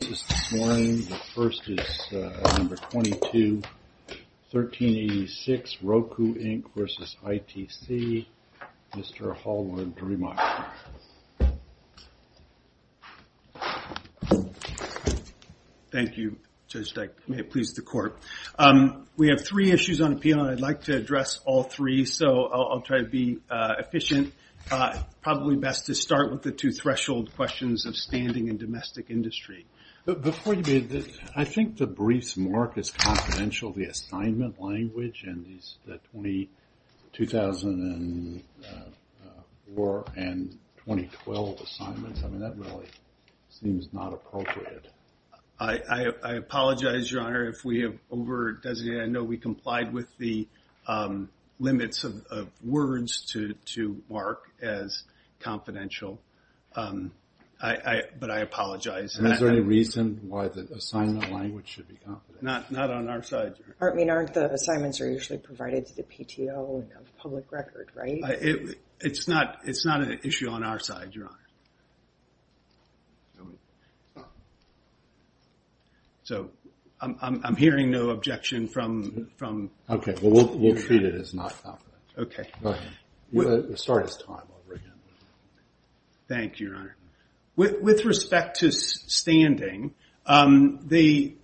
This morning, the first is number 22, 1386, Roku, Inc. v. ITC. Mr. Hallward, to remind you. Thank you, Judge Dyke. May it please the Court. We have three issues on appeal, and I'd like to address all three, so I'll try to be efficient. Probably best to start with the two-threshold questions of standing in domestic industry. Before you begin, I think the brief's mark is confidential, the assignment language, and the 2004 and 2012 assignments. I mean, that really seems not appropriate. I apologize, Your Honor, if we have over-designated. I know we complied with the limits of words to mark as confidential, but I apologize. Is there any reason why the assignment language should be confidential? Not on our side, Your Honor. I mean, aren't the assignments usually provided to the PTO and of public record, right? It's not an issue on our side, Your Honor. So, I'm hearing no objection from... Okay, well, we'll treat it as not confidential. Okay. Thank you, Your Honor. With respect to standing, the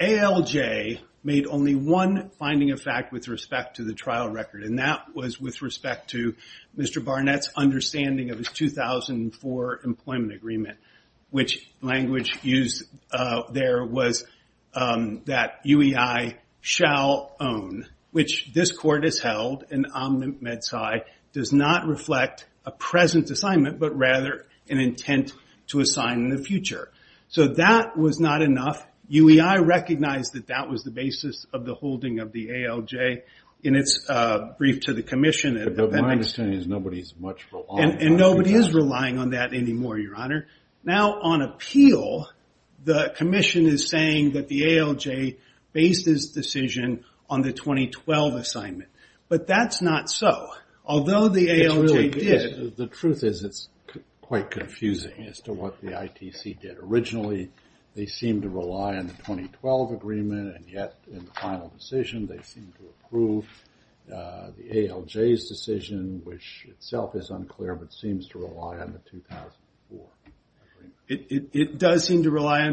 ALJ made only one finding of fact with respect to the trial record, and that was with respect to Mr. Barnett's understanding of his 2004 employment agreement, which language used there was that UEI shall own, which this court has held in omnimed sci, does not reflect a present assignment, but rather an intent to assign in the future. So, that was not enough. UEI recognized that that was the basis of the holding of the ALJ in its brief to the commission. But my understanding is nobody's much relying on that anymore. Now, on appeal, the commission is saying that the ALJ based its decision on the 2012 assignment. But that's not so. Although the ALJ did... The truth is it's quite confusing as to what the ITC did. It does seem to rely on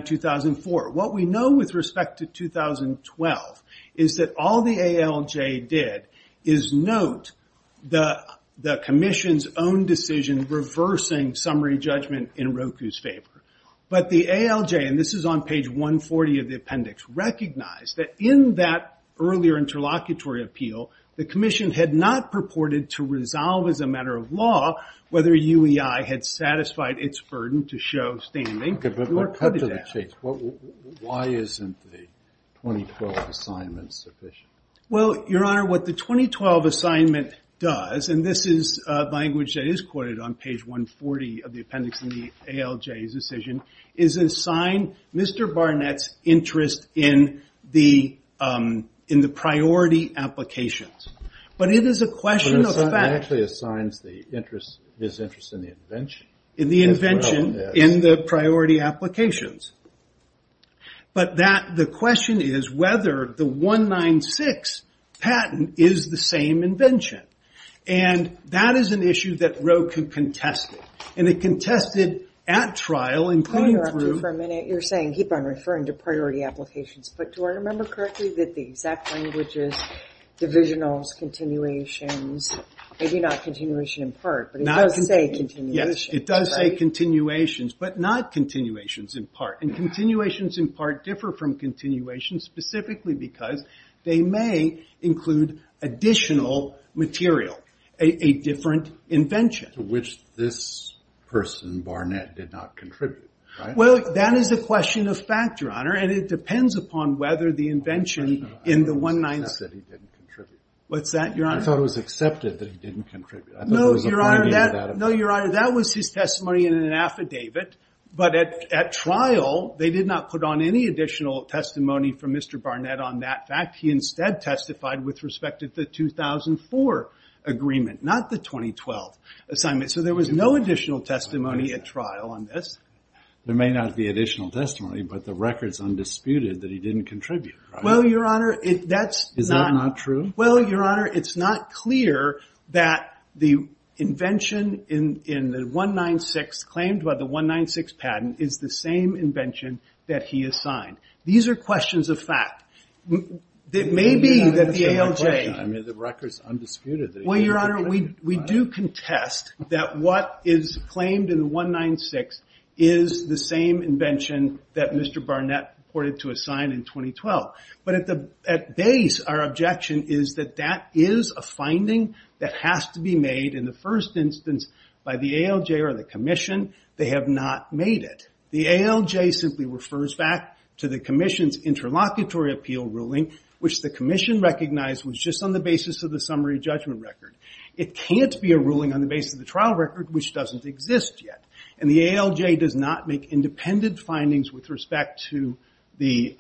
2004. What we know with respect to 2012 is that all the ALJ did is note the commission's own decision reversing summary judgment in Roku's favor. But the ALJ, and this is on page 140 of the appendix, recognized that in that earlier interlocutory appeal, the commission had not purported to resolve as a matter of law whether UEI had satisfied its burden to show standing. Why isn't the 2012 assignment sufficient? Well, your honor, what the 2012 assignment does, and this is language that is quoted on page 140 of the appendix in the ALJ's decision, is assign Mr. Barnett's interest in the priority applications. But it is a question of fact... It actually assigns his interest in the invention. In the invention, in the priority applications. But the question is whether the 196 patent is the same invention. And that is an issue that Roku contested. And it contested at trial, including through... Can I interrupt you for a minute? You're saying keep on referring to priority applications. But do I remember correctly that the exact language is divisionals, continuations, maybe not continuation in part, but it does say continuation. Yes, it does say continuations, but not continuations in part. And continuations in part differ from continuations specifically because they may include additional material, a different invention. To which this person, Barnett, did not contribute, right? Well, that is a question of fact, your honor, and it depends upon whether the invention in the 196... I thought it was accepted that he didn't contribute. What's that, your honor? I thought it was accepted that he didn't contribute. No, your honor, that was his testimony in an affidavit. But at trial, they did not put on any additional testimony from Mr. Barnett on that fact. He instead testified with respect to the 2004 agreement, not the 2012 assignment. So there was no additional testimony at trial on this. There may not be additional testimony, but the record's undisputed that he didn't contribute. Well, your honor, that's not... Is that not true? Well, your honor, it's not clear that the invention in the 196 claimed by the 196 patent is the same invention that he assigned. These are questions of fact. It may be that the ALJ... I mean, the record's undisputed that he didn't contribute. Well, your honor, we do contest that what is claimed in the 196 is the same invention that Mr. Barnett reported to assign in 2012. But at base, our objection is that that is a finding that has to be made in the first instance by the ALJ or the commission. They have not made it. The ALJ simply refers back to the commission's interlocutory appeal ruling, which the commission recognized was just on the basis of the summary judgment record. It can't be a ruling on the basis of the trial record, which doesn't exist yet. And the ALJ does not make independent findings with respect to the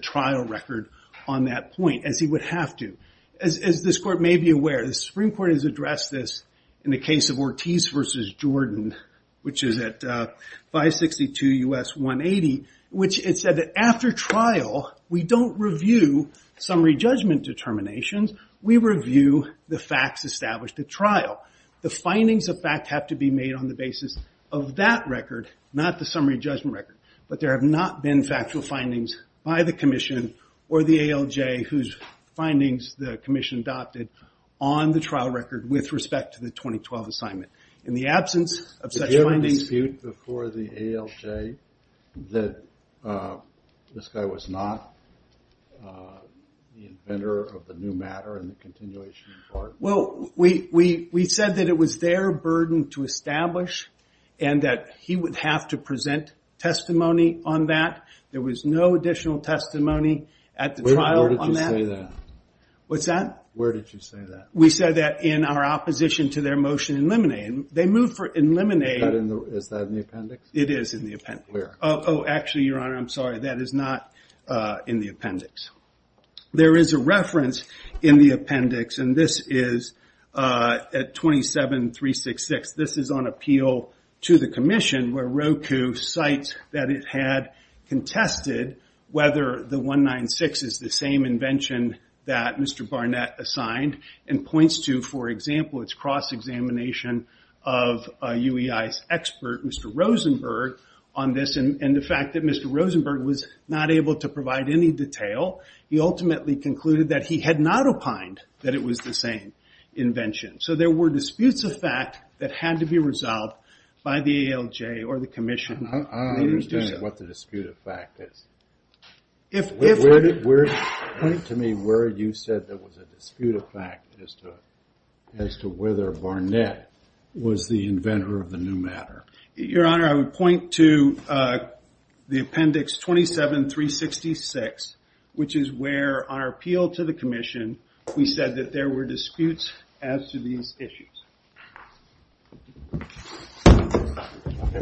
trial record on that point, as he would have to. As this court may be aware, the Supreme Court has addressed this in the case of Ortiz v. Jordan, which is at 562 U.S. 180, which it said that after trial, we don't review summary judgment determinations. The findings of fact have to be made on the basis of that record, not the summary judgment record. But there have not been factual findings by the commission or the ALJ, whose findings the commission adopted on the trial record with respect to the 2012 assignment. In the absence of such findings- Did you ever dispute before the ALJ that this guy was not the inventor of the new matter and the continuation of the bargain? Well, we said that it was their burden to establish and that he would have to present testimony on that. There was no additional testimony at the trial on that. Where did you say that? What's that? Where did you say that? We said that in our opposition to their motion in limine. They moved for in limine- Is that in the appendix? It is in the appendix. Where? Oh, actually, Your Honor, I'm sorry. That is not in the appendix. There is a reference in the appendix, and this is at 27366. This is on appeal to the commission where Roku cites that it had contested whether the 196 is the same invention that Mr. Barnett assigned and points to, for example, its cross-examination of UEI's expert, Mr. Rosenberg, on this. And the fact that Mr. Rosenberg was not able to provide any detail, he ultimately concluded that he had not opined that it was the same invention. So there were disputes of fact that had to be resolved by the ALJ or the commission. I don't understand what the dispute of fact is. Point to me where you said there was a dispute of fact as to whether Barnett was the inventor of the new matter. Your Honor, I would point to the appendix 27366, which is where, on our appeal to the commission, we said that there were disputes as to these issues.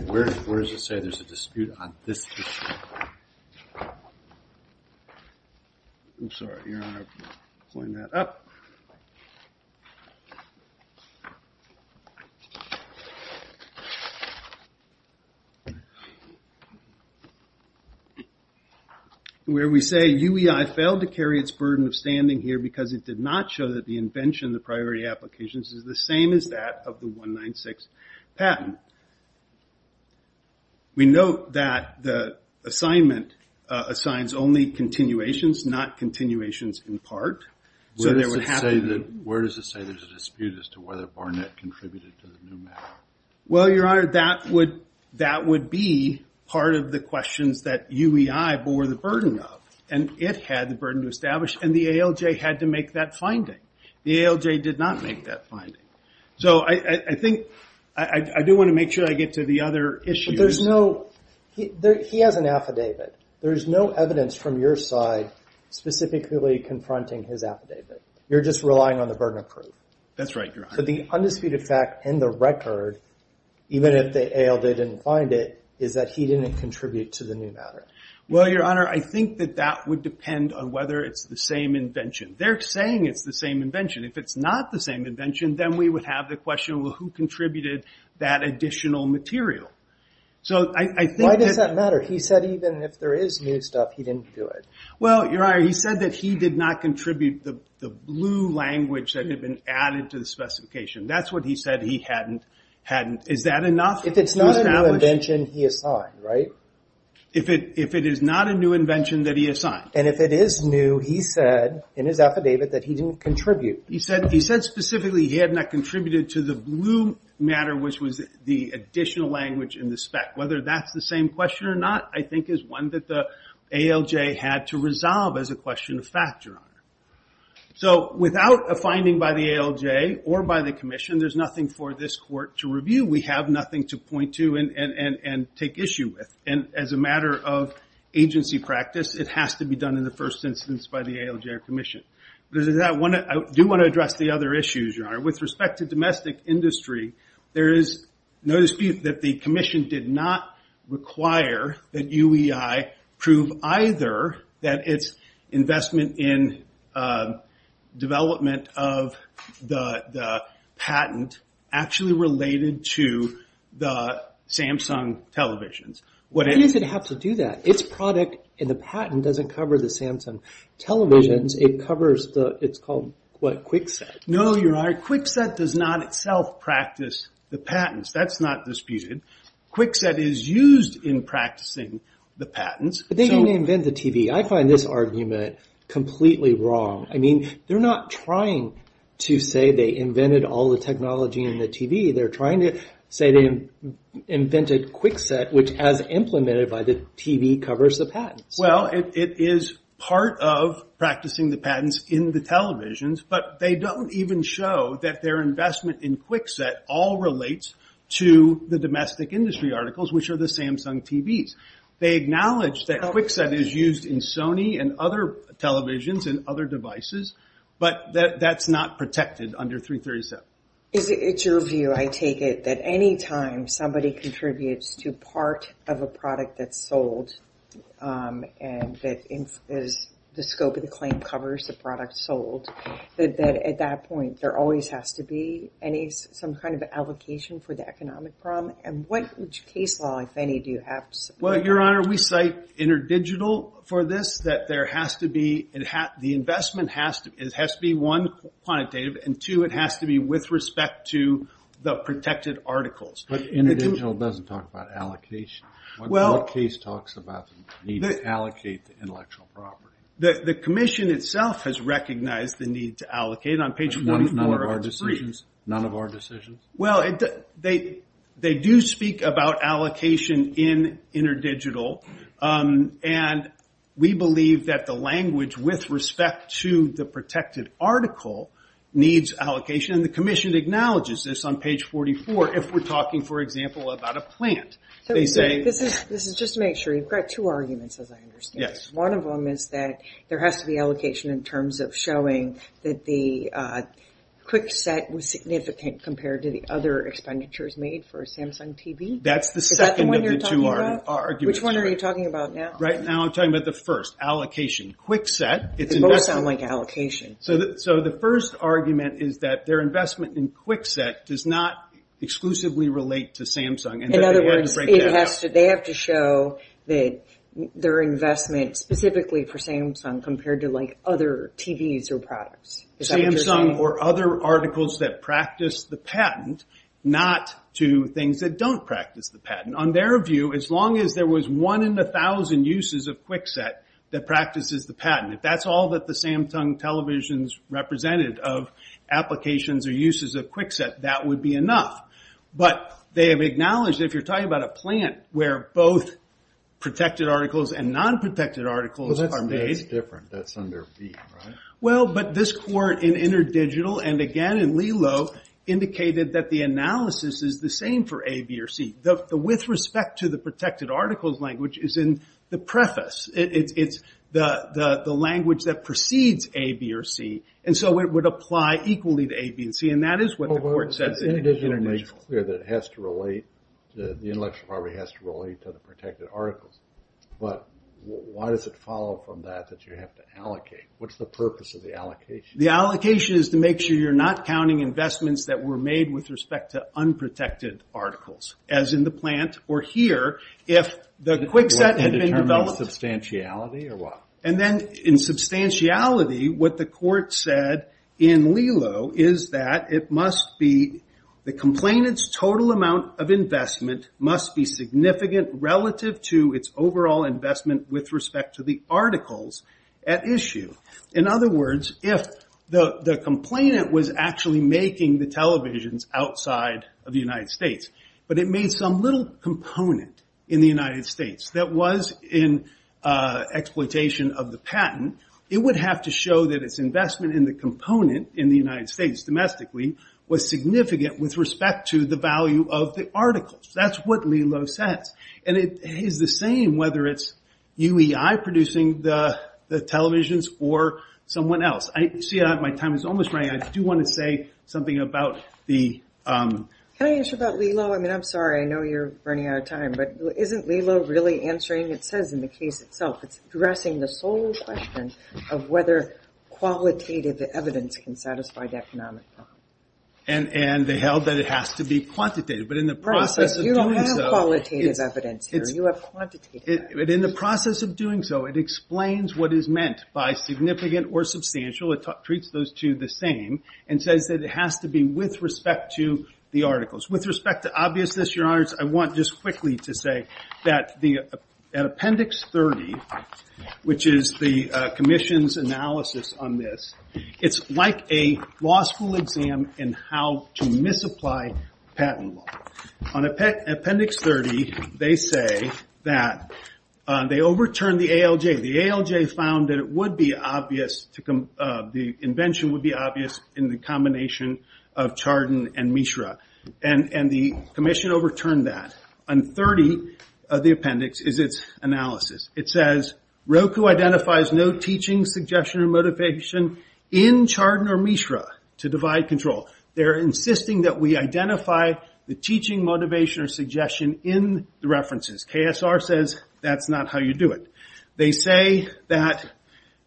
Where does it say there's a dispute on this issue? I'm sorry, Your Honor, I have to point that up. Where we say UEI failed to carry its burden of standing here because it did not show that the invention, the priority applications, is the same as that of the 196 patent. We note that the assignment assigns only continuations, not continuations in part. Where does it say there's a dispute as to whether Barnett contributed to the new matter? Well, Your Honor, that would be part of the questions that UEI bore the burden of. And it had the burden to establish, and the ALJ had to make that finding. The ALJ did not make that finding. So I think, I do want to make sure I get to the other issues. But there's no, he has an affidavit. There's no evidence from your side specifically confronting his affidavit. You're just relying on the burden of proof. That's right, Your Honor. So the undisputed fact in the record, even if the ALJ didn't find it, is that he didn't contribute to the new matter. Well, Your Honor, I think that that would depend on whether it's the same invention. They're saying it's the same invention. If it's not the same invention, then we would have the question, well, who contributed that additional material? So I think that... Why does that matter? He said even if there is new stuff, he didn't do it. Well, Your Honor, he said that he did not contribute the blue language that had been added to the specification. That's what he said he hadn't. Is that enough? If it's not a new invention, he assigned, right? If it is not a new invention, then he assigned. And if it is new, he said in his affidavit that he didn't contribute. He said specifically he had not contributed to the blue matter, which was the additional language in the spec. Whether that's the same question or not, I think is one that the ALJ had to resolve as a question of fact, Your Honor. So without a finding by the ALJ or by the commission, there's nothing for this court to review. We have nothing to point to and take issue with. And as a matter of agency practice, it has to be done in the first instance by the ALJ or commission. I do want to address the other issues, Your Honor. With respect to domestic industry, there is no dispute that the commission did not require that UEI prove either that its investment in development of the patent actually related to the Samsung televisions. Why does it have to do that? Its product in the patent doesn't cover the Samsung televisions. It covers the, it's called, what, Kwikset. No, Your Honor. Kwikset does not itself practice the patents. That's not disputed. Kwikset is used in practicing the patents. But they didn't invent the TV. I find this argument completely wrong. I mean, they're not trying to say they invented all the technology in the TV. They're trying to say they invented Kwikset, which as implemented by the TV, covers the patents. Well, it is part of practicing the patents in the televisions, but they don't even show that their investment in Kwikset all relates to the domestic industry articles, which are the Samsung TVs. They acknowledge that Kwikset is used in Sony and other televisions and other devices, but that's not protected under 337. It's your view, I take it, that any time somebody contributes to part of a product that's sold and the scope of the claim covers the product sold, that at that point there always has to be some kind of allocation for the economic problem? And what case law, if any, do you have to support? Well, Your Honor, we cite InterDigital for this, that the investment has to be, one, quantitative, and, two, it has to be with respect to the protected articles. But InterDigital doesn't talk about allocation. Our case talks about the need to allocate the intellectual property. The commission itself has recognized the need to allocate. None of our decisions? Well, they do speak about allocation in InterDigital, and we believe that the language with respect to the protected article needs allocation, and the commission acknowledges this on page 44 if we're talking, for example, about a plant. This is just to make sure. You've got two arguments, as I understand it. One of them is that there has to be allocation in terms of showing that the Kwikset was significant compared to the other expenditures made for Samsung TV. That's the second of the two arguments. Is that the one you're talking about? Which one are you talking about now? Right now I'm talking about the first, allocation. Kwikset, it's investment. They both sound like allocation. So the first argument is that their investment in Kwikset does not exclusively relate to Samsung. In other words, they have to show that their investment specifically for Samsung compared to, like, other TVs or products. Samsung or other articles that practice the patent, not to things that don't practice the patent. On their view, as long as there was one in a thousand uses of Kwikset that practices the patent, if that's all that the Samsung televisions represented of applications or uses of Kwikset, that would be enough. But they have acknowledged, if you're talking about a plant where both protected articles and non-protected articles are made. That's different. That's under B, right? Well, but this court in InterDigital and again in LELO indicated that the analysis is the same for A, B, or C. With respect to the protected articles language is in the preface. It's the language that precedes A, B, or C. And so it would apply equally to A, B, and C. And that is what the court says in InterDigital. InterDigital makes it clear that it has to relate. The intellectual property has to relate to the protected articles. But why does it follow from that that you have to allocate? What's the purpose of the allocation? The allocation is to make sure you're not counting investments that were made with respect to unprotected articles, as in the plant or here, if the Kwikset had been developed. In terms of substantiality or what? And then in substantiality, what the court said in LELO is that it must be, the complainant's total amount of investment must be significant relative to its overall investment with respect to the articles at issue. In other words, if the complainant was actually making the televisions outside of the United States, but it made some little component in the United States that was in exploitation of the patent, it would have to show that its investment in the component in the United States domestically was significant with respect to the value of the articles. That's what LELO says. And it is the same whether it's UEI producing the televisions or someone else. See, my time is almost running out. I do want to say something about the- Can I answer about LELO? I mean, I'm sorry. I know you're running out of time. But isn't LELO really answering, it says in the case itself, it's addressing the sole question of whether qualitative evidence can satisfy the economic problem. And they held that it has to be quantitative, but in the process of doing so- In the process of doing so, it explains what is meant by significant or substantial. It treats those two the same and says that it has to be with respect to the articles. With respect to obviousness, Your Honors, I want just quickly to say that at Appendix 30, which is the commission's analysis on this, it's like a law school exam in how to misapply patent law. On Appendix 30, they say that they overturned the ALJ. The ALJ found that it would be obvious, the invention would be obvious, in the combination of Chardon and Mishra. And the commission overturned that. On 30 of the appendix is its analysis. It says, Roku identifies no teaching, suggestion, or motivation in Chardon or Mishra to divide control. They're insisting that we identify the teaching, motivation, or suggestion in the references. KSR says, that's not how you do it. They say that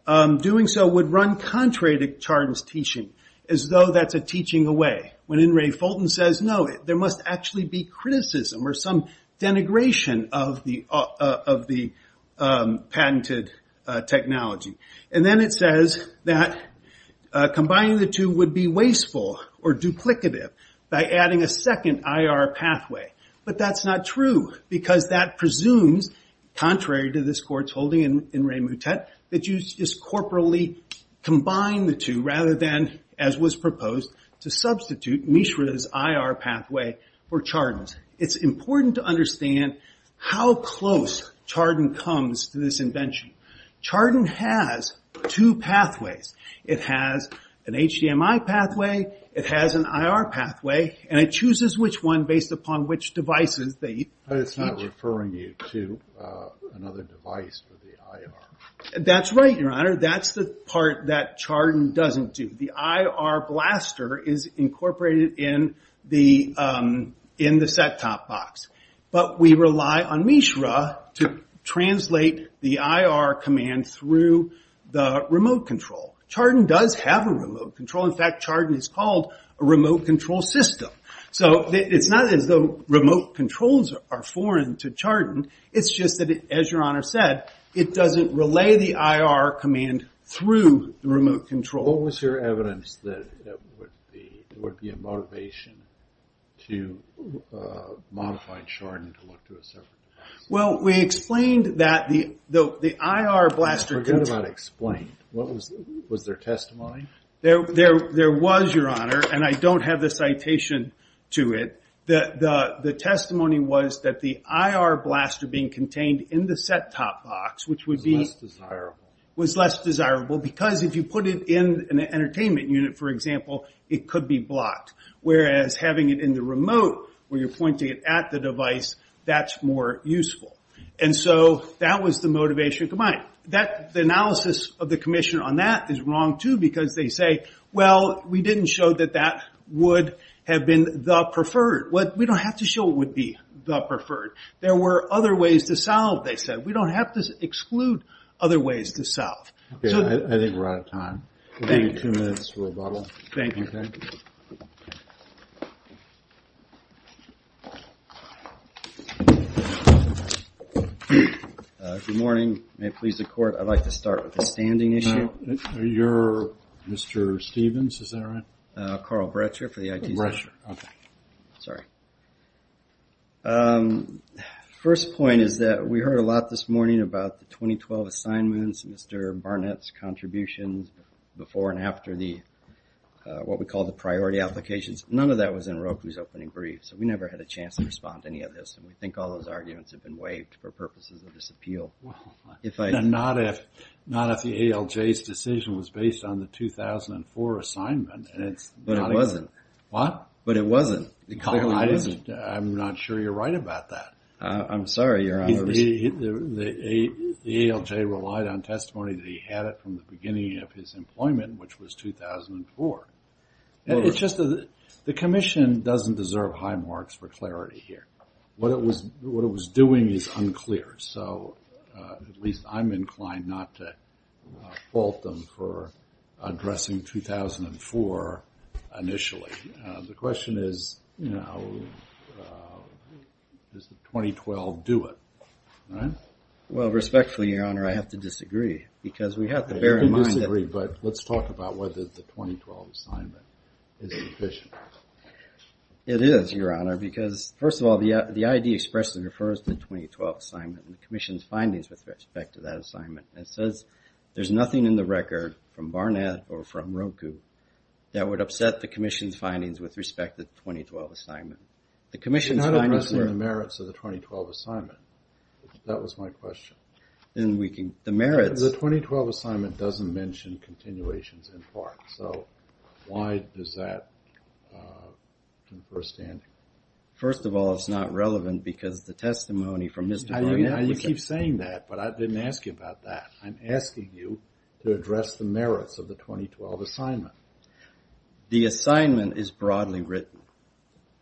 doing so would run contrary to Chardon's teaching, as though that's a teaching away. When In re Fulton says, no, there must actually be criticism or some denigration of the patented technology. And then it says that combining the two would be wasteful or duplicative by adding a second IR pathway. But that's not true, because that presumes, contrary to this court's holding in Re Moutet, that you just corporally combine the two, rather than, as was proposed, to substitute Mishra's IR pathway for Chardon's. It's important to understand how close Chardon comes to this invention. Chardon has two pathways. It has an HDMI pathway, it has an IR pathway, and it chooses which one based upon which devices they teach. But it's not referring you to another device for the IR. That's right, Your Honor. That's the part that Chardon doesn't do. The IR blaster is incorporated in the set-top box. But we rely on Mishra to translate the IR command through the remote control. Chardon does have a remote control. In fact, Chardon is called a remote control system. So it's not as though remote controls are foreign to Chardon. It's just that, as Your Honor said, it doesn't relay the IR command through the remote control. What was your evidence that would be a motivation to modify Chardon to look to a separate device? Well, we explained that the IR blaster... Forget about explain. Was there testimony? There was, Your Honor, and I don't have the citation to it. The testimony was that the IR blaster being contained in the set-top box, which would be... Was less desirable. Because if you put it in an entertainment unit, for example, it could be blocked. Whereas having it in the remote, where you're pointing it at the device, that's more useful. And so that was the motivation combined. The analysis of the commission on that is wrong, too, because they say, well, we didn't show that that would have been the preferred. We don't have to show what would be the preferred. There were other ways to solve, they said. We don't have to exclude other ways to solve. Okay, I think we're out of time. We'll give you two minutes for rebuttal. Thank you. Okay? Good morning. May it please the Court, I'd like to start with a standing issue. You're Mr. Stevens, is that right? Carl Brecher for the IT Center. Brecher, okay. Sorry. First point is that we heard a lot this morning about the 2012 assignments, Mr. Barnett's contributions before and after the, what we call the priority applications. None of that was in Roku's opening brief, so we never had a chance to respond to any of this. And we think all those arguments have been waived for purposes of this appeal. Well, not if the ALJ's decision was based on the 2004 assignment. But it wasn't. What? But it wasn't. I'm not sure you're right about that. I'm sorry, Your Honor. The ALJ relied on testimony that he had it from the beginning of his employment, which was 2004. It's just that the commission doesn't deserve high marks for clarity here. What it was doing is unclear. So at least I'm inclined not to fault them for addressing 2004 initially. The question is, you know, does the 2012 do it? Well, respectfully, Your Honor, I have to disagree because we have to bear in mind that You can disagree, but let's talk about whether the 2012 assignment is sufficient. It is, Your Honor, because, first of all, the ID expressly refers to the 2012 assignment and the commission's findings with respect to that assignment. It says there's nothing in the record from Barnett or from Roku that would upset the commission's findings with respect to the 2012 assignment. It's not addressing the merits of the 2012 assignment. That was my question. The 2012 assignment doesn't mention continuations in part. So why does that confer standing? First of all, it's not relevant because the testimony from Mr. Barnett was You keep saying that, but I didn't ask you about that. I'm asking you to address the merits of the 2012 assignment. The assignment is broadly written.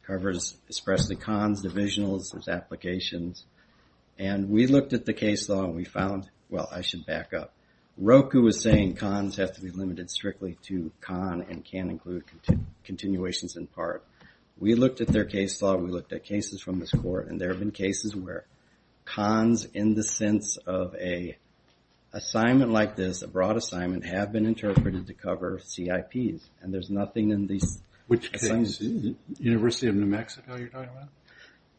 It covers expressly cons, divisionals, there's applications. And we looked at the case law and we found, well, I should back up. Roku was saying cons have to be limited strictly to con and can include continuations in part. We looked at their case law and we looked at cases from this court, and there have been cases where cons in the sense of an assignment like this, a broad assignment, have been interpreted to cover CIPs. And there's nothing in these assignments. Which case? University of New Mexico you're talking about?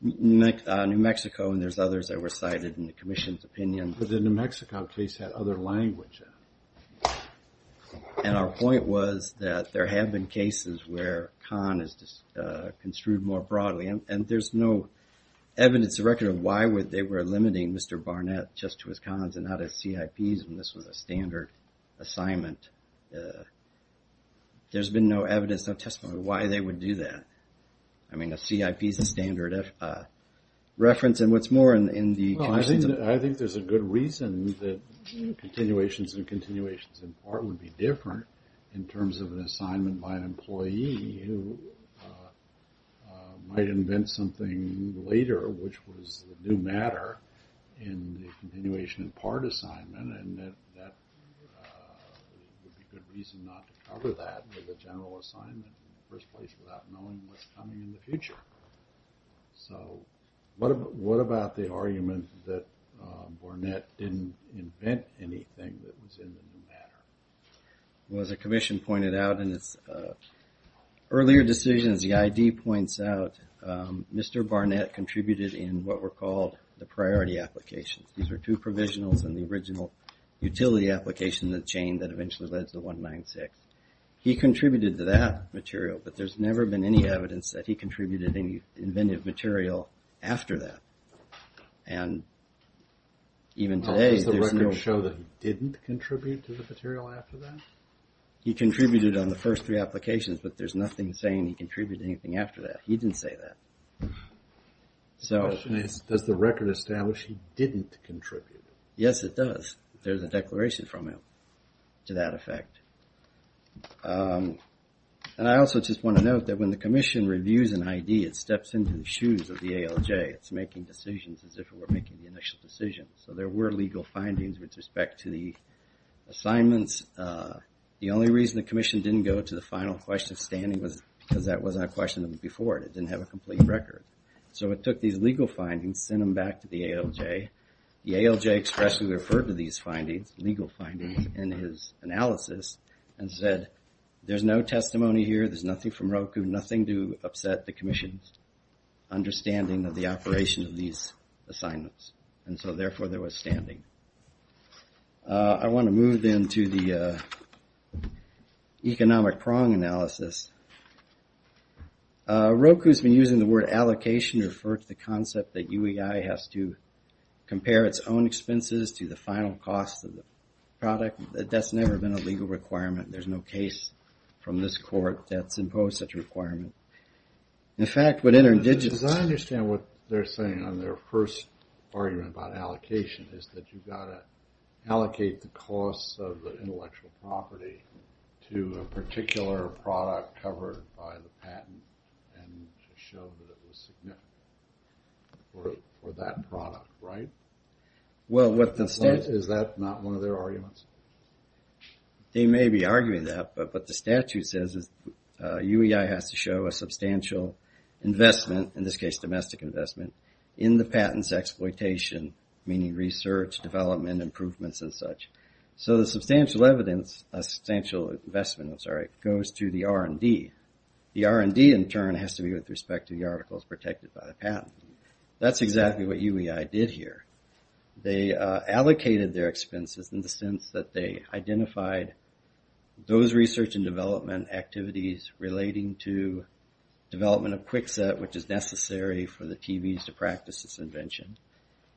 New Mexico, and there's others that were cited in the commission's opinion. But the New Mexico case had other language. And our point was that there have been cases where con is construed more broadly. And there's no evidence or record of why they were limiting Mr. Barnett just to his cons and not his CIPs when this was a standard assignment. There's been no evidence, no testimony of why they would do that. I mean, a CIP is a standard reference. And what's more in the commission's opinion. I think there's a good reason that continuations and continuations in part would be different in terms of an assignment by an employee who might invent something later, which was the new matter in the continuation in part assignment. And that would be a good reason not to cover that with a general assignment in the first place without knowing what's coming in the future. So what about the argument that Barnett didn't invent anything that was in the new matter? Well, as the commission pointed out in its earlier decisions, the ID points out, Mr. Barnett contributed in what were called the priority applications. These were two provisionals in the original utility application in the chain that eventually led to 196. He contributed to that material, but there's never been any evidence that he contributed any inventive material after that. And even today, there's no... How does the record show that he didn't contribute to the material after that? He contributed on the first three applications, but there's nothing saying he contributed anything after that. He didn't say that. The question is, does the record establish he didn't contribute? Yes, it does. There's a declaration from him to that effect. And I also just want to note that when the commission reviews an ID, it steps into the shoes of the ALJ. It's making decisions as if it were making the initial decisions. So there were legal findings with respect to the assignments. The only reason the commission didn't go to the final question standing was because that wasn't a question before. It didn't have a complete record. So it took these legal findings, sent them back to the ALJ. The ALJ expressly referred to these legal findings in his analysis and said, there's no testimony here, there's nothing from Roku, nothing to upset the commission's understanding of the operation of these assignments. And so therefore, there was standing. I want to move then to the economic prong analysis. Roku's been using the word allocation to refer to the concept that UEI has to compare its own expenses to the final cost of the product. That's never been a legal requirement. There's no case from this court that's imposed such a requirement. In fact, what InterDigital... Because I understand what they're saying on their first argument about allocation is that you've got to allocate the costs of the intellectual property to a particular product covered by the patent and to show that it was significant for that product, right? Well, what the... Is that not one of their arguments? They may be arguing that, but what the statute says is UEI has to show a substantial investment, in this case domestic investment, in the patent's exploitation, meaning research, development, improvements, and such. So the substantial investment goes to the R&D. The R&D, in turn, has to be with respect to the articles protected by the patent. That's exactly what UEI did here. They allocated their expenses in the sense that they identified those research and development activities relating to development of Kwikset, which is necessary for the TVs to practice this invention.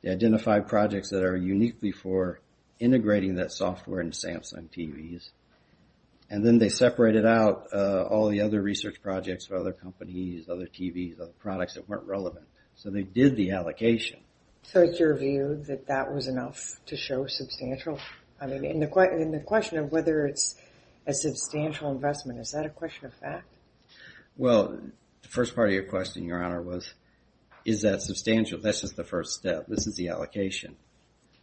They identified projects that are uniquely for integrating that software into Samsung TVs. And then they separated out all the other research projects for other companies, other TVs, other products that weren't relevant. So they did the allocation. So it's your view that that was enough to show substantial? I mean, in the question of whether it's a substantial investment, is that a question of fact? Well, the first part of your question, Your Honor, was is that substantial? That's just the first step. This is the allocation.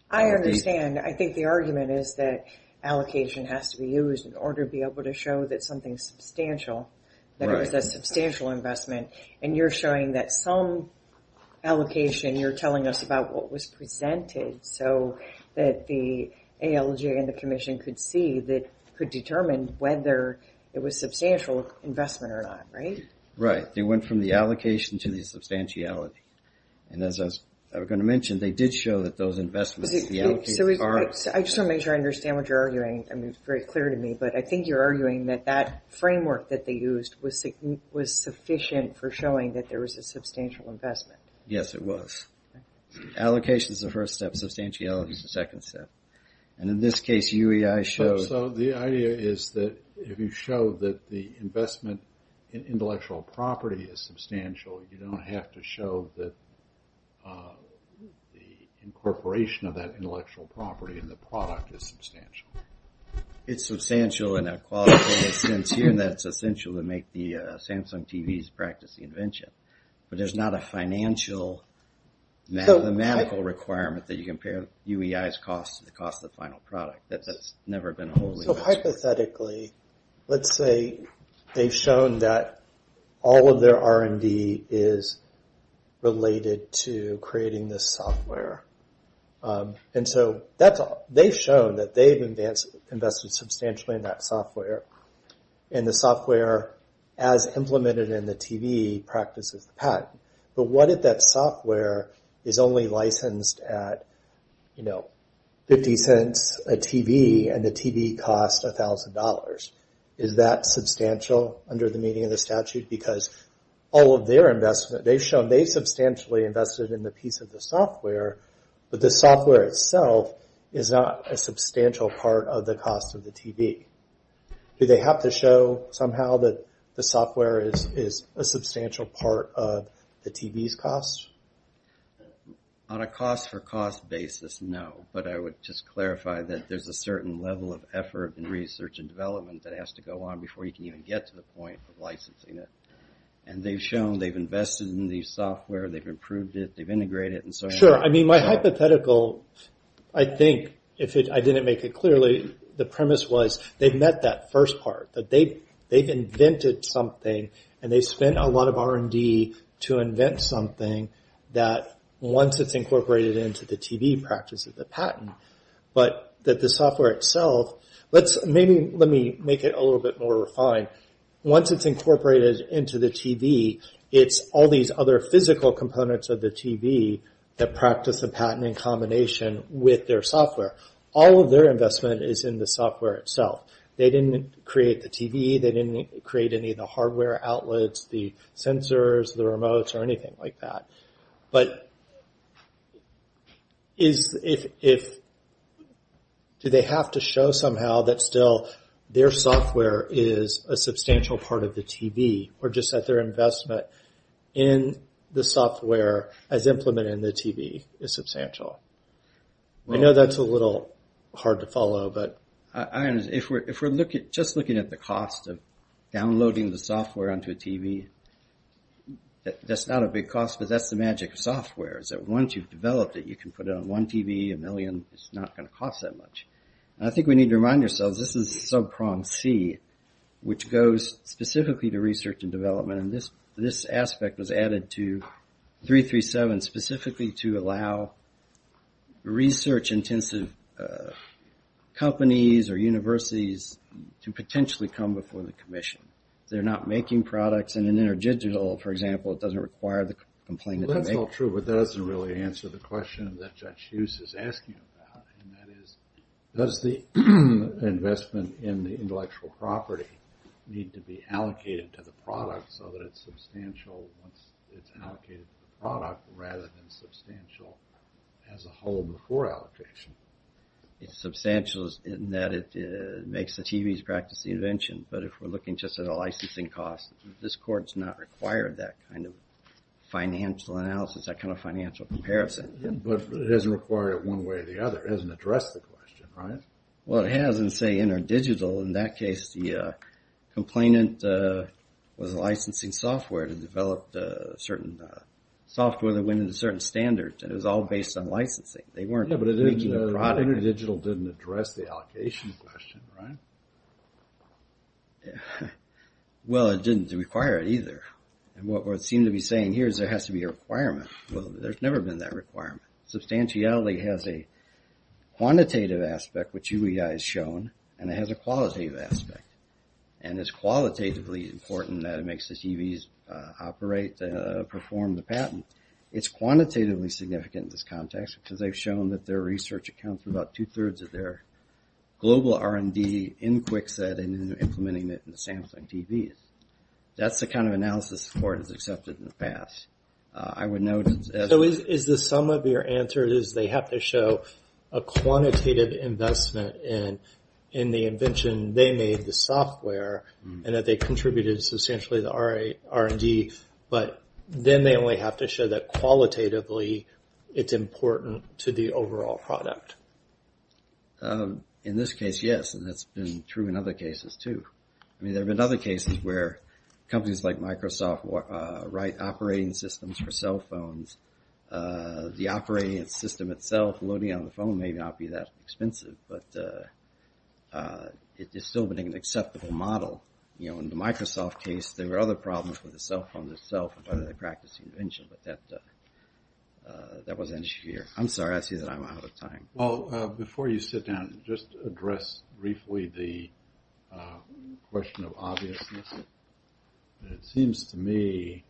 I understand. I think the argument is that allocation has to be used in order to be able to show that something's substantial, that it was a substantial investment. And you're showing that some allocation, you're telling us about what was presented so that the ALJ and the Commission could see, could determine whether it was substantial investment or not, right? Right. They went from the allocation to the substantiality. And as I was going to mention, they did show that those investments, the allocations are. I just want to make sure I understand what you're arguing. I mean, it's very clear to me. But I think you're arguing that that framework that they used was sufficient for showing that there was a substantial investment. Yes, it was. Allocation is the first step. Substantiality is the second step. And in this case, UEI showed. So the idea is that if you show that the investment in intellectual property is substantial, you don't have to show that the incorporation of that intellectual property in the product is substantial. It's substantial in a qualitative sense here, and that's essential to make the Samsung TVs practice the invention. But there's not a financial, mathematical requirement that you compare UEI's cost to the cost of the final product. That's never been a wholly. So hypothetically, let's say they've shown that all of their R&D is related to creating this software. And so they've shown that they've invested substantially in that software, and the software, as implemented in the TV, practices the patent. But what if that software is only licensed at 50 cents a TV, and the TV costs $1,000? Is that substantial under the meaning of the statute? Because all of their investment, they've shown they've substantially invested in the piece of the software, but the software itself is not a substantial part of the cost of the TV. Do they have to show somehow that the software is a substantial part of the TV's cost? On a cost-for-cost basis, no. But I would just clarify that there's a certain level of effort in research and development that has to go on before you can even get to the point of licensing it. And they've shown they've invested in the software, they've improved it, they've integrated it. Sure. I mean, my hypothetical, I think, if I didn't make it clearly, the premise was they've met that first part. They've invented something, and they've spent a lot of R&D to invent something that, once it's incorporated into the TV, practices the patent. But the software itself, let me make it a little bit more refined. Once it's incorporated into the TV, it's all these other physical components of the TV that practice the patent in combination with their software. All of their investment is in the software itself. They didn't create the TV, they didn't create any of the hardware outlets, the sensors, the remotes, or anything like that. But do they have to show somehow that still their software is a substantial part of the TV, or just that their investment in the software as implemented in the TV is substantial? I know that's a little hard to follow. If we're just looking at the cost of downloading the software onto a TV, that's not a big cost, but that's the magic of software, is that once you've developed it, you can put it on one TV, a million, it's not going to cost that much. I think we need to remind ourselves this is sub-prong C, which goes specifically to research and development. This aspect was added to 337 specifically to allow research-intensive companies or universities to potentially come before the commission. They're not making products in an interdigital, for example, it doesn't require the complainant to make. That's not true, but that doesn't really answer the question that Judge Hughes is asking about, and that is does the investment in the intellectual property need to be allocated to the product so that it's substantial once it's allocated to the product rather than substantial as a whole before allocation? It's substantial in that it makes the TVs practice the invention, but if we're looking just at a licensing cost, this court's not required that kind of financial analysis, that kind of financial comparison. But it doesn't require it one way or the other. It doesn't address the question, right? Well, it has in, say, interdigital. In that case, the complainant was licensing software to develop certain software that went into certain standards, and it was all based on licensing. They weren't making a product. Interdigital didn't address the allocation question, right? Well, it didn't require it either, and what we seem to be saying here is there has to be a requirement. Well, there's never been that requirement. Substantiality has a quantitative aspect, which UEI has shown, and it has a qualitative aspect, and it's qualitatively important that it makes the TVs operate, perform the patent. It's quantitatively significant in this context because they've shown that their research accounts for about two-thirds of their global R&D in QuickSet and implementing it in the Samsung TVs. That's the kind of analysis the court has accepted in the past. So is the sum of your answer is they have to show a quantitative investment in the invention they made, the software, and that they contributed substantially to the R&D, but then they only have to show that qualitatively it's important to the overall product? In this case, yes, and that's been true in other cases too. I mean, there have been other cases where companies like Microsoft write operating systems for cell phones. The operating system itself, loading it on the phone, may not be that expensive, but it is still an acceptable model. In the Microsoft case, there were other problems with the cell phone itself and whether they practiced the invention, but that was an issue here. I'm sorry. I see that I'm out of time. Well, before you sit down, just address briefly the question of obviousness. It seems to me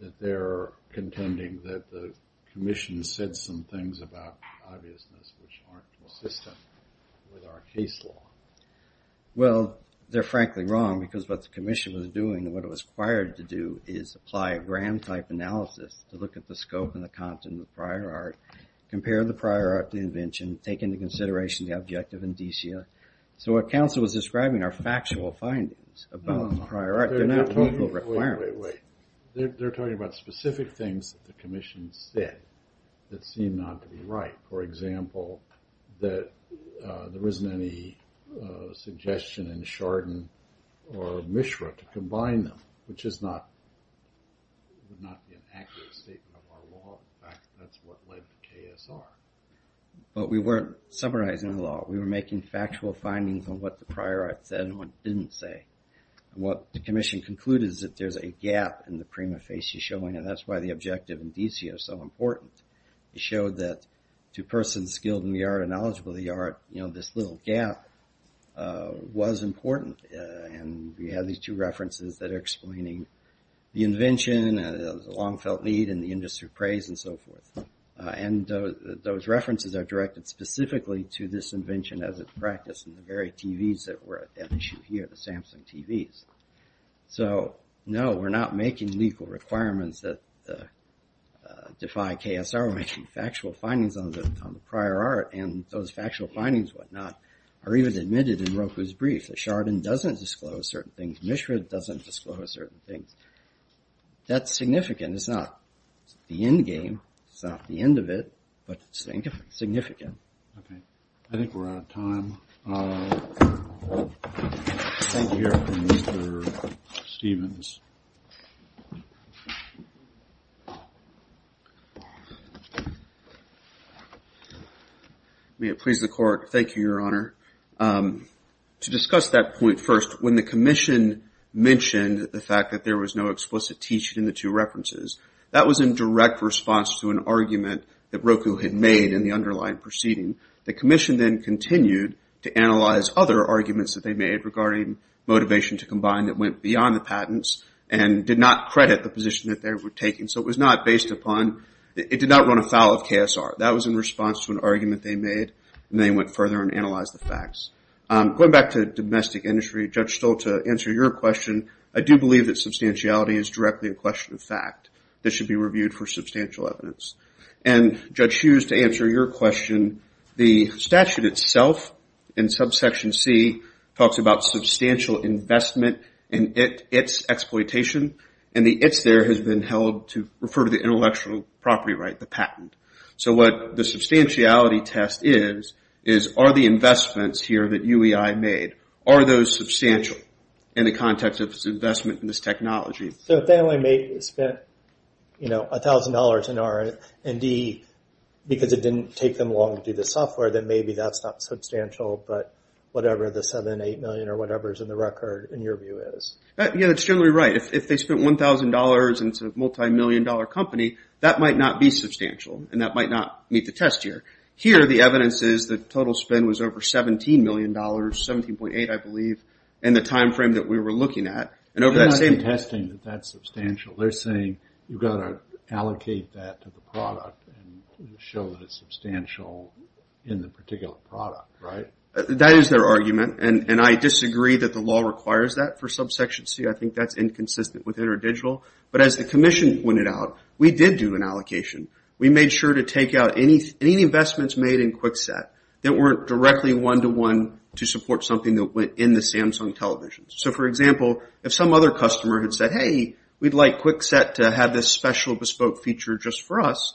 that they're contending that the commission said some things about obviousness which aren't consistent with our case law. Well, they're frankly wrong because what the commission was doing and what it was required to do is apply a gram-type analysis to look at the scope and the content of prior art, compare the prior art to the invention, take into consideration the objective and DCA. So what counsel was describing are factual findings about prior art. They're not local requirements. Wait, wait, wait. They're talking about specific things that the commission said that seem not to be right. For example, that there isn't any suggestion in Chardon or Mishra to combine them, which is not an accurate statement of our law. In fact, that's what led to KSR. But we weren't summarizing the law. We were making factual findings on what the prior art said and what it didn't say. What the commission concluded is that there's a gap in the prima facie showing, and that's why the objective and DCA are so important. It showed that to persons skilled in the art and knowledgeable of the art, you know, this little gap was important, and we have these two references that are explaining the invention, the long-felt need in the industry of praise and so forth. And those references are directed specifically to this invention as it practiced in the very TVs that were at issue here, the Samsung TVs. So, no, we're not making legal requirements that defy KSR. We're making factual findings on the prior art, and those factual findings, whatnot, are even admitted in Roku's brief. Chardon doesn't disclose certain things. Mishra doesn't disclose certain things. That's significant. It's not the end game. It's not the end of it, but it's significant. Okay. I think we're out of time. Thank you, Your Honor. Mr. Stevens. May it please the Court. Thank you, Your Honor. To discuss that point first, when the commission mentioned the fact that there was no explicit teaching in the two references, that was in direct response to an argument that Roku had made in the underlying proceeding. The commission then continued to analyze other arguments that they made regarding motivation to combine that went beyond the patents and did not credit the position that they were taking. So it was not based upon ñ it did not run afoul of KSR. That was in response to an argument they made, and they went further and analyzed the facts. Going back to domestic industry, Judge Stoll, to answer your question, I do believe that substantiality is directly a question of fact that should be reviewed for substantial evidence. And, Judge Hughes, to answer your question, the statute itself in subsection C talks about substantial investment in its exploitation, and the its there has been held to refer to the intellectual property right, the patent. So what the substantiality test is, is are the investments here that UEI made, are those substantial in the context of its investment in this technology? So if they only spent, you know, $1,000 in R&D because it didn't take them long to do the software, then maybe that's not substantial, but whatever the 7, 8 million or whatever is in the record, in your view, is. Yeah, that's generally right. If they spent $1,000 in a multi-million dollar company, that might not be substantial, and that might not meet the test here. Here the evidence is the total spend was over $17 million, 17.8 I believe, in the time frame that we were looking at. And over that same. They're not contesting that that's substantial. They're saying you've got to allocate that to the product and show that it's substantial in the particular product, right? That is their argument, and I disagree that the law requires that for subsection C. I think that's inconsistent with interdigital. But as the commission pointed out, we did do an allocation. We made sure to take out any investments made in Kwikset that weren't directly one-to-one to support something that went in the Samsung televisions. So, for example, if some other customer had said, hey, we'd like Kwikset to have this special bespoke feature just for us,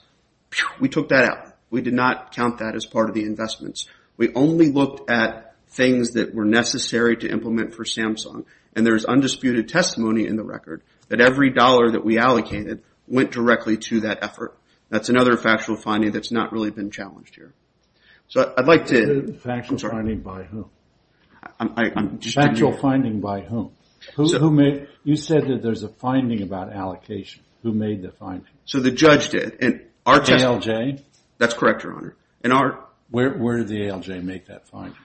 we took that out. We did not count that as part of the investments. We only looked at things that were necessary to implement for Samsung, and there's undisputed testimony in the record that every dollar that we allocated went directly to that effort. That's another factual finding that's not really been challenged here. So I'd like to... Factual finding by whom? Factual finding by whom? You said that there's a finding about allocation. Who made the finding? So the judge did. ALJ? That's correct, Your Honor. Where did the ALJ make that finding?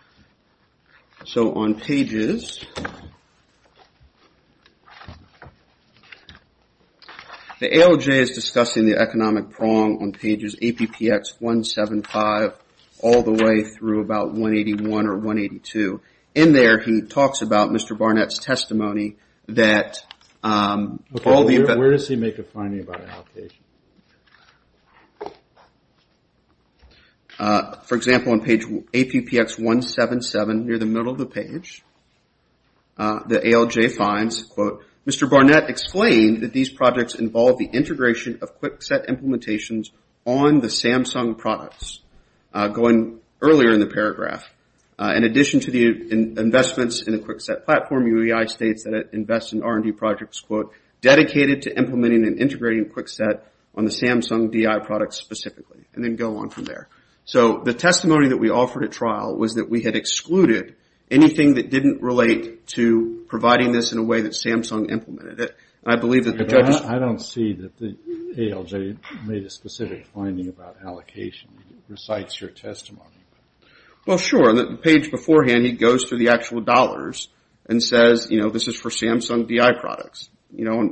So on pages... The ALJ is discussing the economic prong on pages APPX 175 all the way through about 181 or 182. In there, he talks about Mr. Barnett's testimony that... Where does he make a finding about allocation? For example, on page APPX 177, near the middle of the page, the ALJ finds, quote, Mr. Barnett explained that these projects involve the integration of QuickSET implementations on the Samsung products. Going earlier in the paragraph, in addition to the investments in the QuickSET platform, UEI states that it invests in R&D projects, quote, dedicated to implementing and integrating QuickSET on the Samsung DI products specifically, and then go on from there. So the testimony that we offered at trial was that we had excluded anything that didn't relate to providing this in a way that Samsung implemented it. I believe that the judges... I don't see that the ALJ made a specific finding about allocation. It recites your testimony. Well, sure. On the page beforehand, he goes through the actual dollars and says, you know, this is for Samsung DI products. You know, on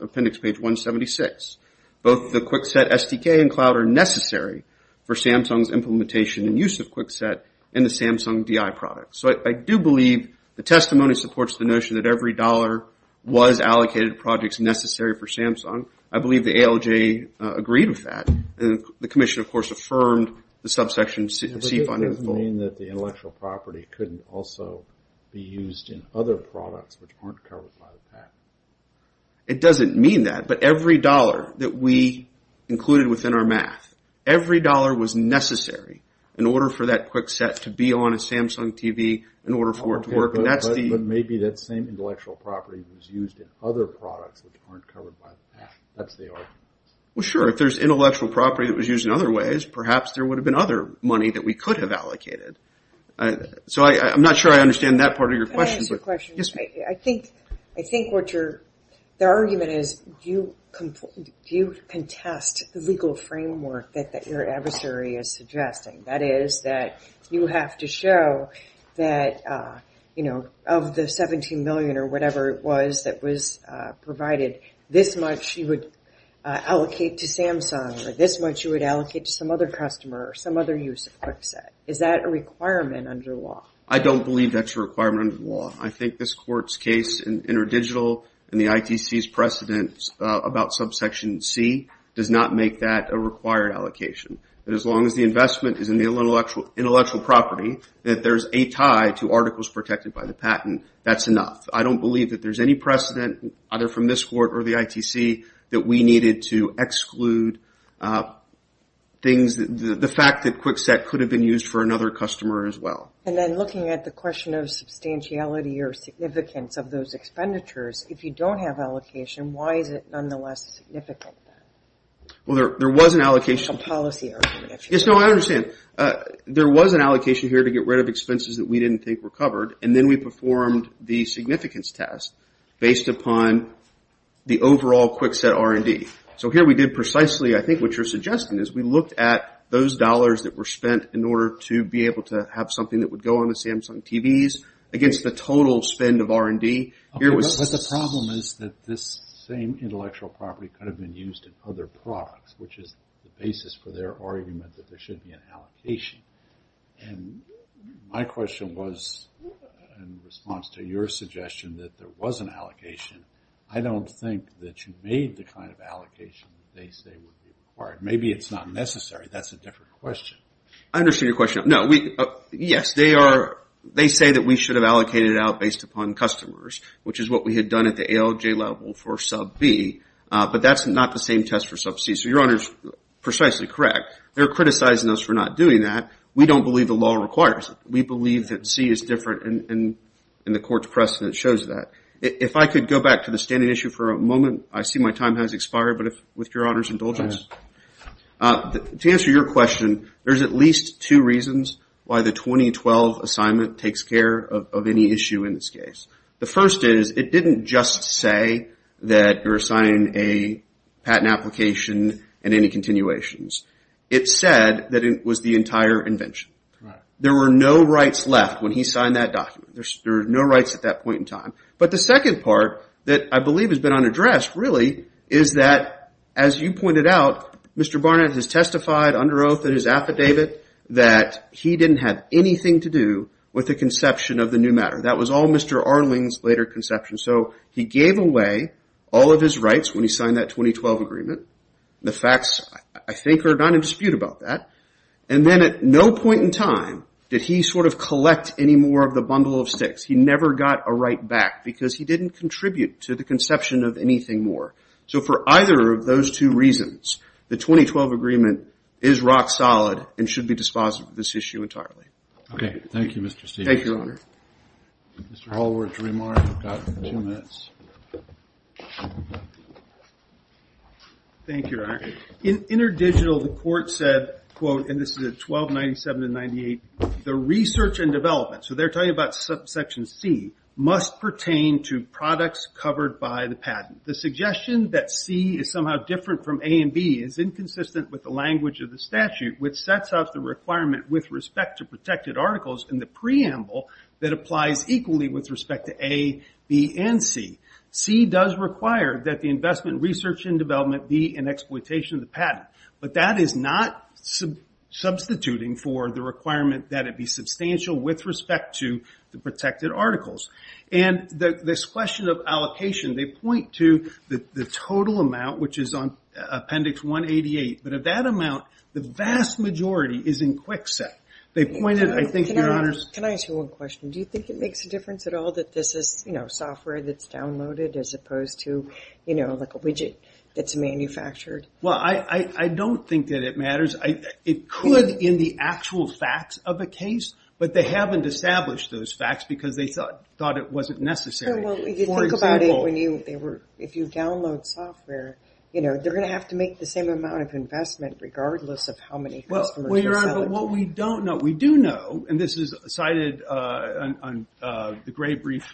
appendix page 176. Both the QuickSET SDK and cloud are necessary for Samsung's implementation and use of QuickSET and the Samsung DI products. So I do believe the testimony supports the notion that every dollar was allocated to projects necessary for Samsung. I believe the ALJ agreed with that. And the commission, of course, affirmed the subsection C finding. It doesn't mean that the intellectual property couldn't also be used in other products which aren't covered by the PAC. It doesn't mean that. But every dollar that we included within our math, every dollar was necessary in order for that QuickSET to be on a Samsung TV, in order for it to work. But maybe that same intellectual property was used in other products which aren't covered by the PAC. That's the argument. Well, sure. If there's intellectual property that was used in other ways, perhaps there would have been other money that we could have allocated. So I'm not sure I understand that part of your question. Can I ask you a question? Yes, ma'am. I think the argument is do you contest the legal framework that your adversary is suggesting? That is that you have to show that, you know, of the $17 million or whatever it was that was provided, this much you would allocate to Samsung or this much you would allocate to some other customer or some other use of QuickSET. Is that a requirement under law? I don't believe that's a requirement under law. I think this court's case in interdigital and the ITC's precedent about subsection C does not make that a required allocation. As long as the investment is in the intellectual property, that there's a tie to articles protected by the patent, that's enough. I don't believe that there's any precedent either from this court or the ITC that we needed to exclude things. The fact that QuickSET could have been used for another customer as well. And then looking at the question of substantiality or significance of those expenditures, if you don't have allocation, why is it nonetheless significant? Well, there was an allocation. It's a policy argument. Yes, no, I understand. There was an allocation here to get rid of expenses that we didn't think were covered, and then we performed the significance test based upon the overall QuickSET R&D. So here we did precisely, I think, what you're suggesting is we looked at those dollars that were spent in order to be able to have something that would go on the Samsung TVs against the total spend of R&D. But the problem is that this same intellectual property could have been used in other products, which is the basis for their argument that there should be an allocation. And my question was in response to your suggestion that there was an allocation. I don't think that you made the kind of allocation that they say would be required. Maybe it's not necessary. That's a different question. I understand your question. Yes, they say that we should have allocated it out based upon customers, which is what we had done at the ALJ level for sub B. But that's not the same test for sub C. So your Honor is precisely correct. They're criticizing us for not doing that. We don't believe the law requires it. We believe that C is different, and the court's precedent shows that. If I could go back to the standing issue for a moment. I see my time has expired, but with your Honor's indulgence. To answer your question, there's at least two reasons why the 2012 assignment takes care of any issue in this case. The first is it didn't just say that you're assigning a patent application and any continuations. It said that it was the entire invention. There were no rights left when he signed that document. There were no rights at that point in time. But the second part that I believe has been unaddressed really is that, as you pointed out, Mr. Barnett has testified under oath in his affidavit that he didn't have anything to do with the conception of the new matter. That was all Mr. Arling's later conception. So he gave away all of his rights when he signed that 2012 agreement. The facts, I think, are not in dispute about that. And then at no point in time did he sort of collect any more of the bundle of sticks. He never got a right back because he didn't contribute to the conception of anything more. So for either of those two reasons, the 2012 agreement is rock solid and should be dispositive of this issue entirely. Okay. Thank you, Mr. Stegman. Thank you, Your Honor. Mr. Hallward to remark. You've got two minutes. Thank you, Your Honor. In InterDigital, the court said, quote, and this is at 1297 and 98, the research and development, so they're talking about Section C, must pertain to products covered by the patent. The suggestion that C is somehow different from A and B is inconsistent with the language of the statute, which sets out the requirement with respect to protected articles in the preamble that applies equally with respect to A, B, and C. C does require that the investment, research, and development be in exploitation of the patent. But that is not substituting for the requirement that it be substantial with respect to the protected articles. And this question of allocation, they point to the total amount, which is on Appendix 188, but of that amount, the vast majority is in QuickSet. Can I ask you one question? Do you think it makes a difference at all that this is software that's downloaded as opposed to a widget that's manufactured? Well, I don't think that it matters. It could in the actual facts of the case, but they haven't established those facts because they thought it wasn't necessary. Well, if you think about it, if you download software, they're going to have to make the same amount of investment regardless of how many customers you're selling to. Well, Your Honor, but what we don't know, we do know, and this is cited on the gray brief,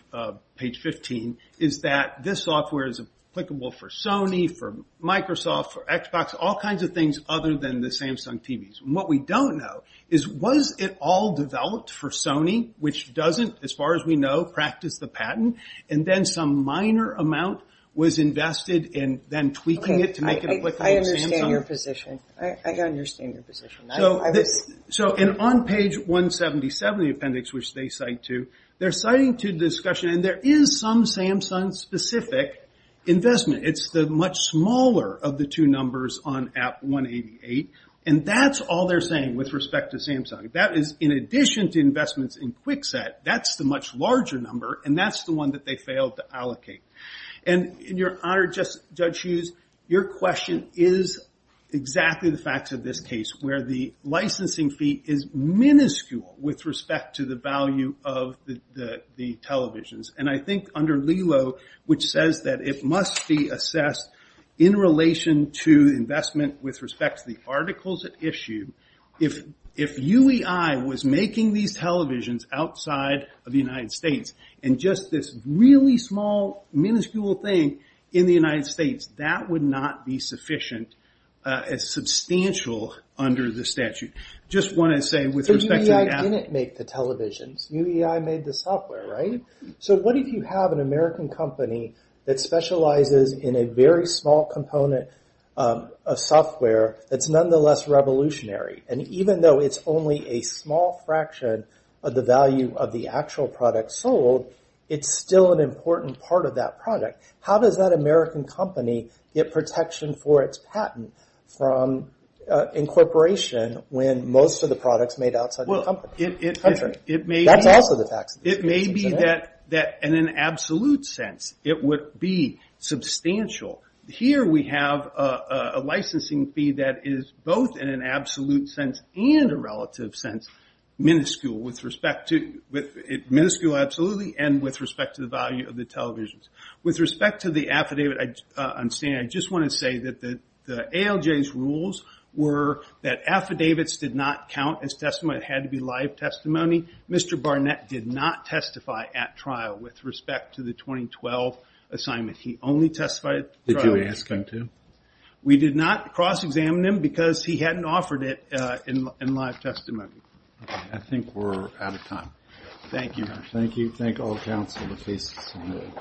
page 15, is that this software is applicable for Sony, for Microsoft, for Xbox, all kinds of things other than the Samsung TVs. And what we don't know is was it all developed for Sony, which doesn't, as far as we know, practice the patent, and then some minor amount was invested in then tweaking it to make it applicable to Samsung? Okay, I understand your position. I understand your position. So on page 177 of the appendix, which they cite to, they're citing to discussion, and there is some Samsung-specific investment. It's the much smaller of the two numbers on app 188, and that's all they're saying with respect to Samsung. That is, in addition to investments in Kwikset, that's the much larger number, and that's the one that they failed to allocate. And Your Honor, Judge Hughes, your question is exactly the facts of this case, where the licensing fee is minuscule with respect to the value of the televisions. And I think under LELO, which says that it must be assessed in relation to investment with respect to the articles at issue, if UEI was making these televisions outside of the United States, and just this really small, minuscule thing in the United States, that would not be sufficient as substantial under the statute. I just want to say with respect to the app. So UEI didn't make the televisions. UEI made the software, right? So what if you have an American company that specializes in a very small component of software that's nonetheless revolutionary, and even though it's only a small fraction of the value of the actual product sold, it's still an important part of that product. How does that American company get protection for its patent from incorporation when most of the product's made outside the country? That's also the facts of the case. It may be that in an absolute sense it would be substantial. Here we have a licensing fee that is both in an absolute sense and a relative sense minuscule with respect to the value of the televisions. With respect to the affidavit I'm saying, I just want to say that the ALJ's rules were that affidavits did not count as testimony. It had to be live testimony. Mr. Barnett did not testify at trial with respect to the 2012 assignment. He only testified at trial. Did you ask him to? We did not cross-examine him because he hadn't offered it in live testimony. I think we're out of time. Thank you. Thank you. Thank all counsel. The case is submitted.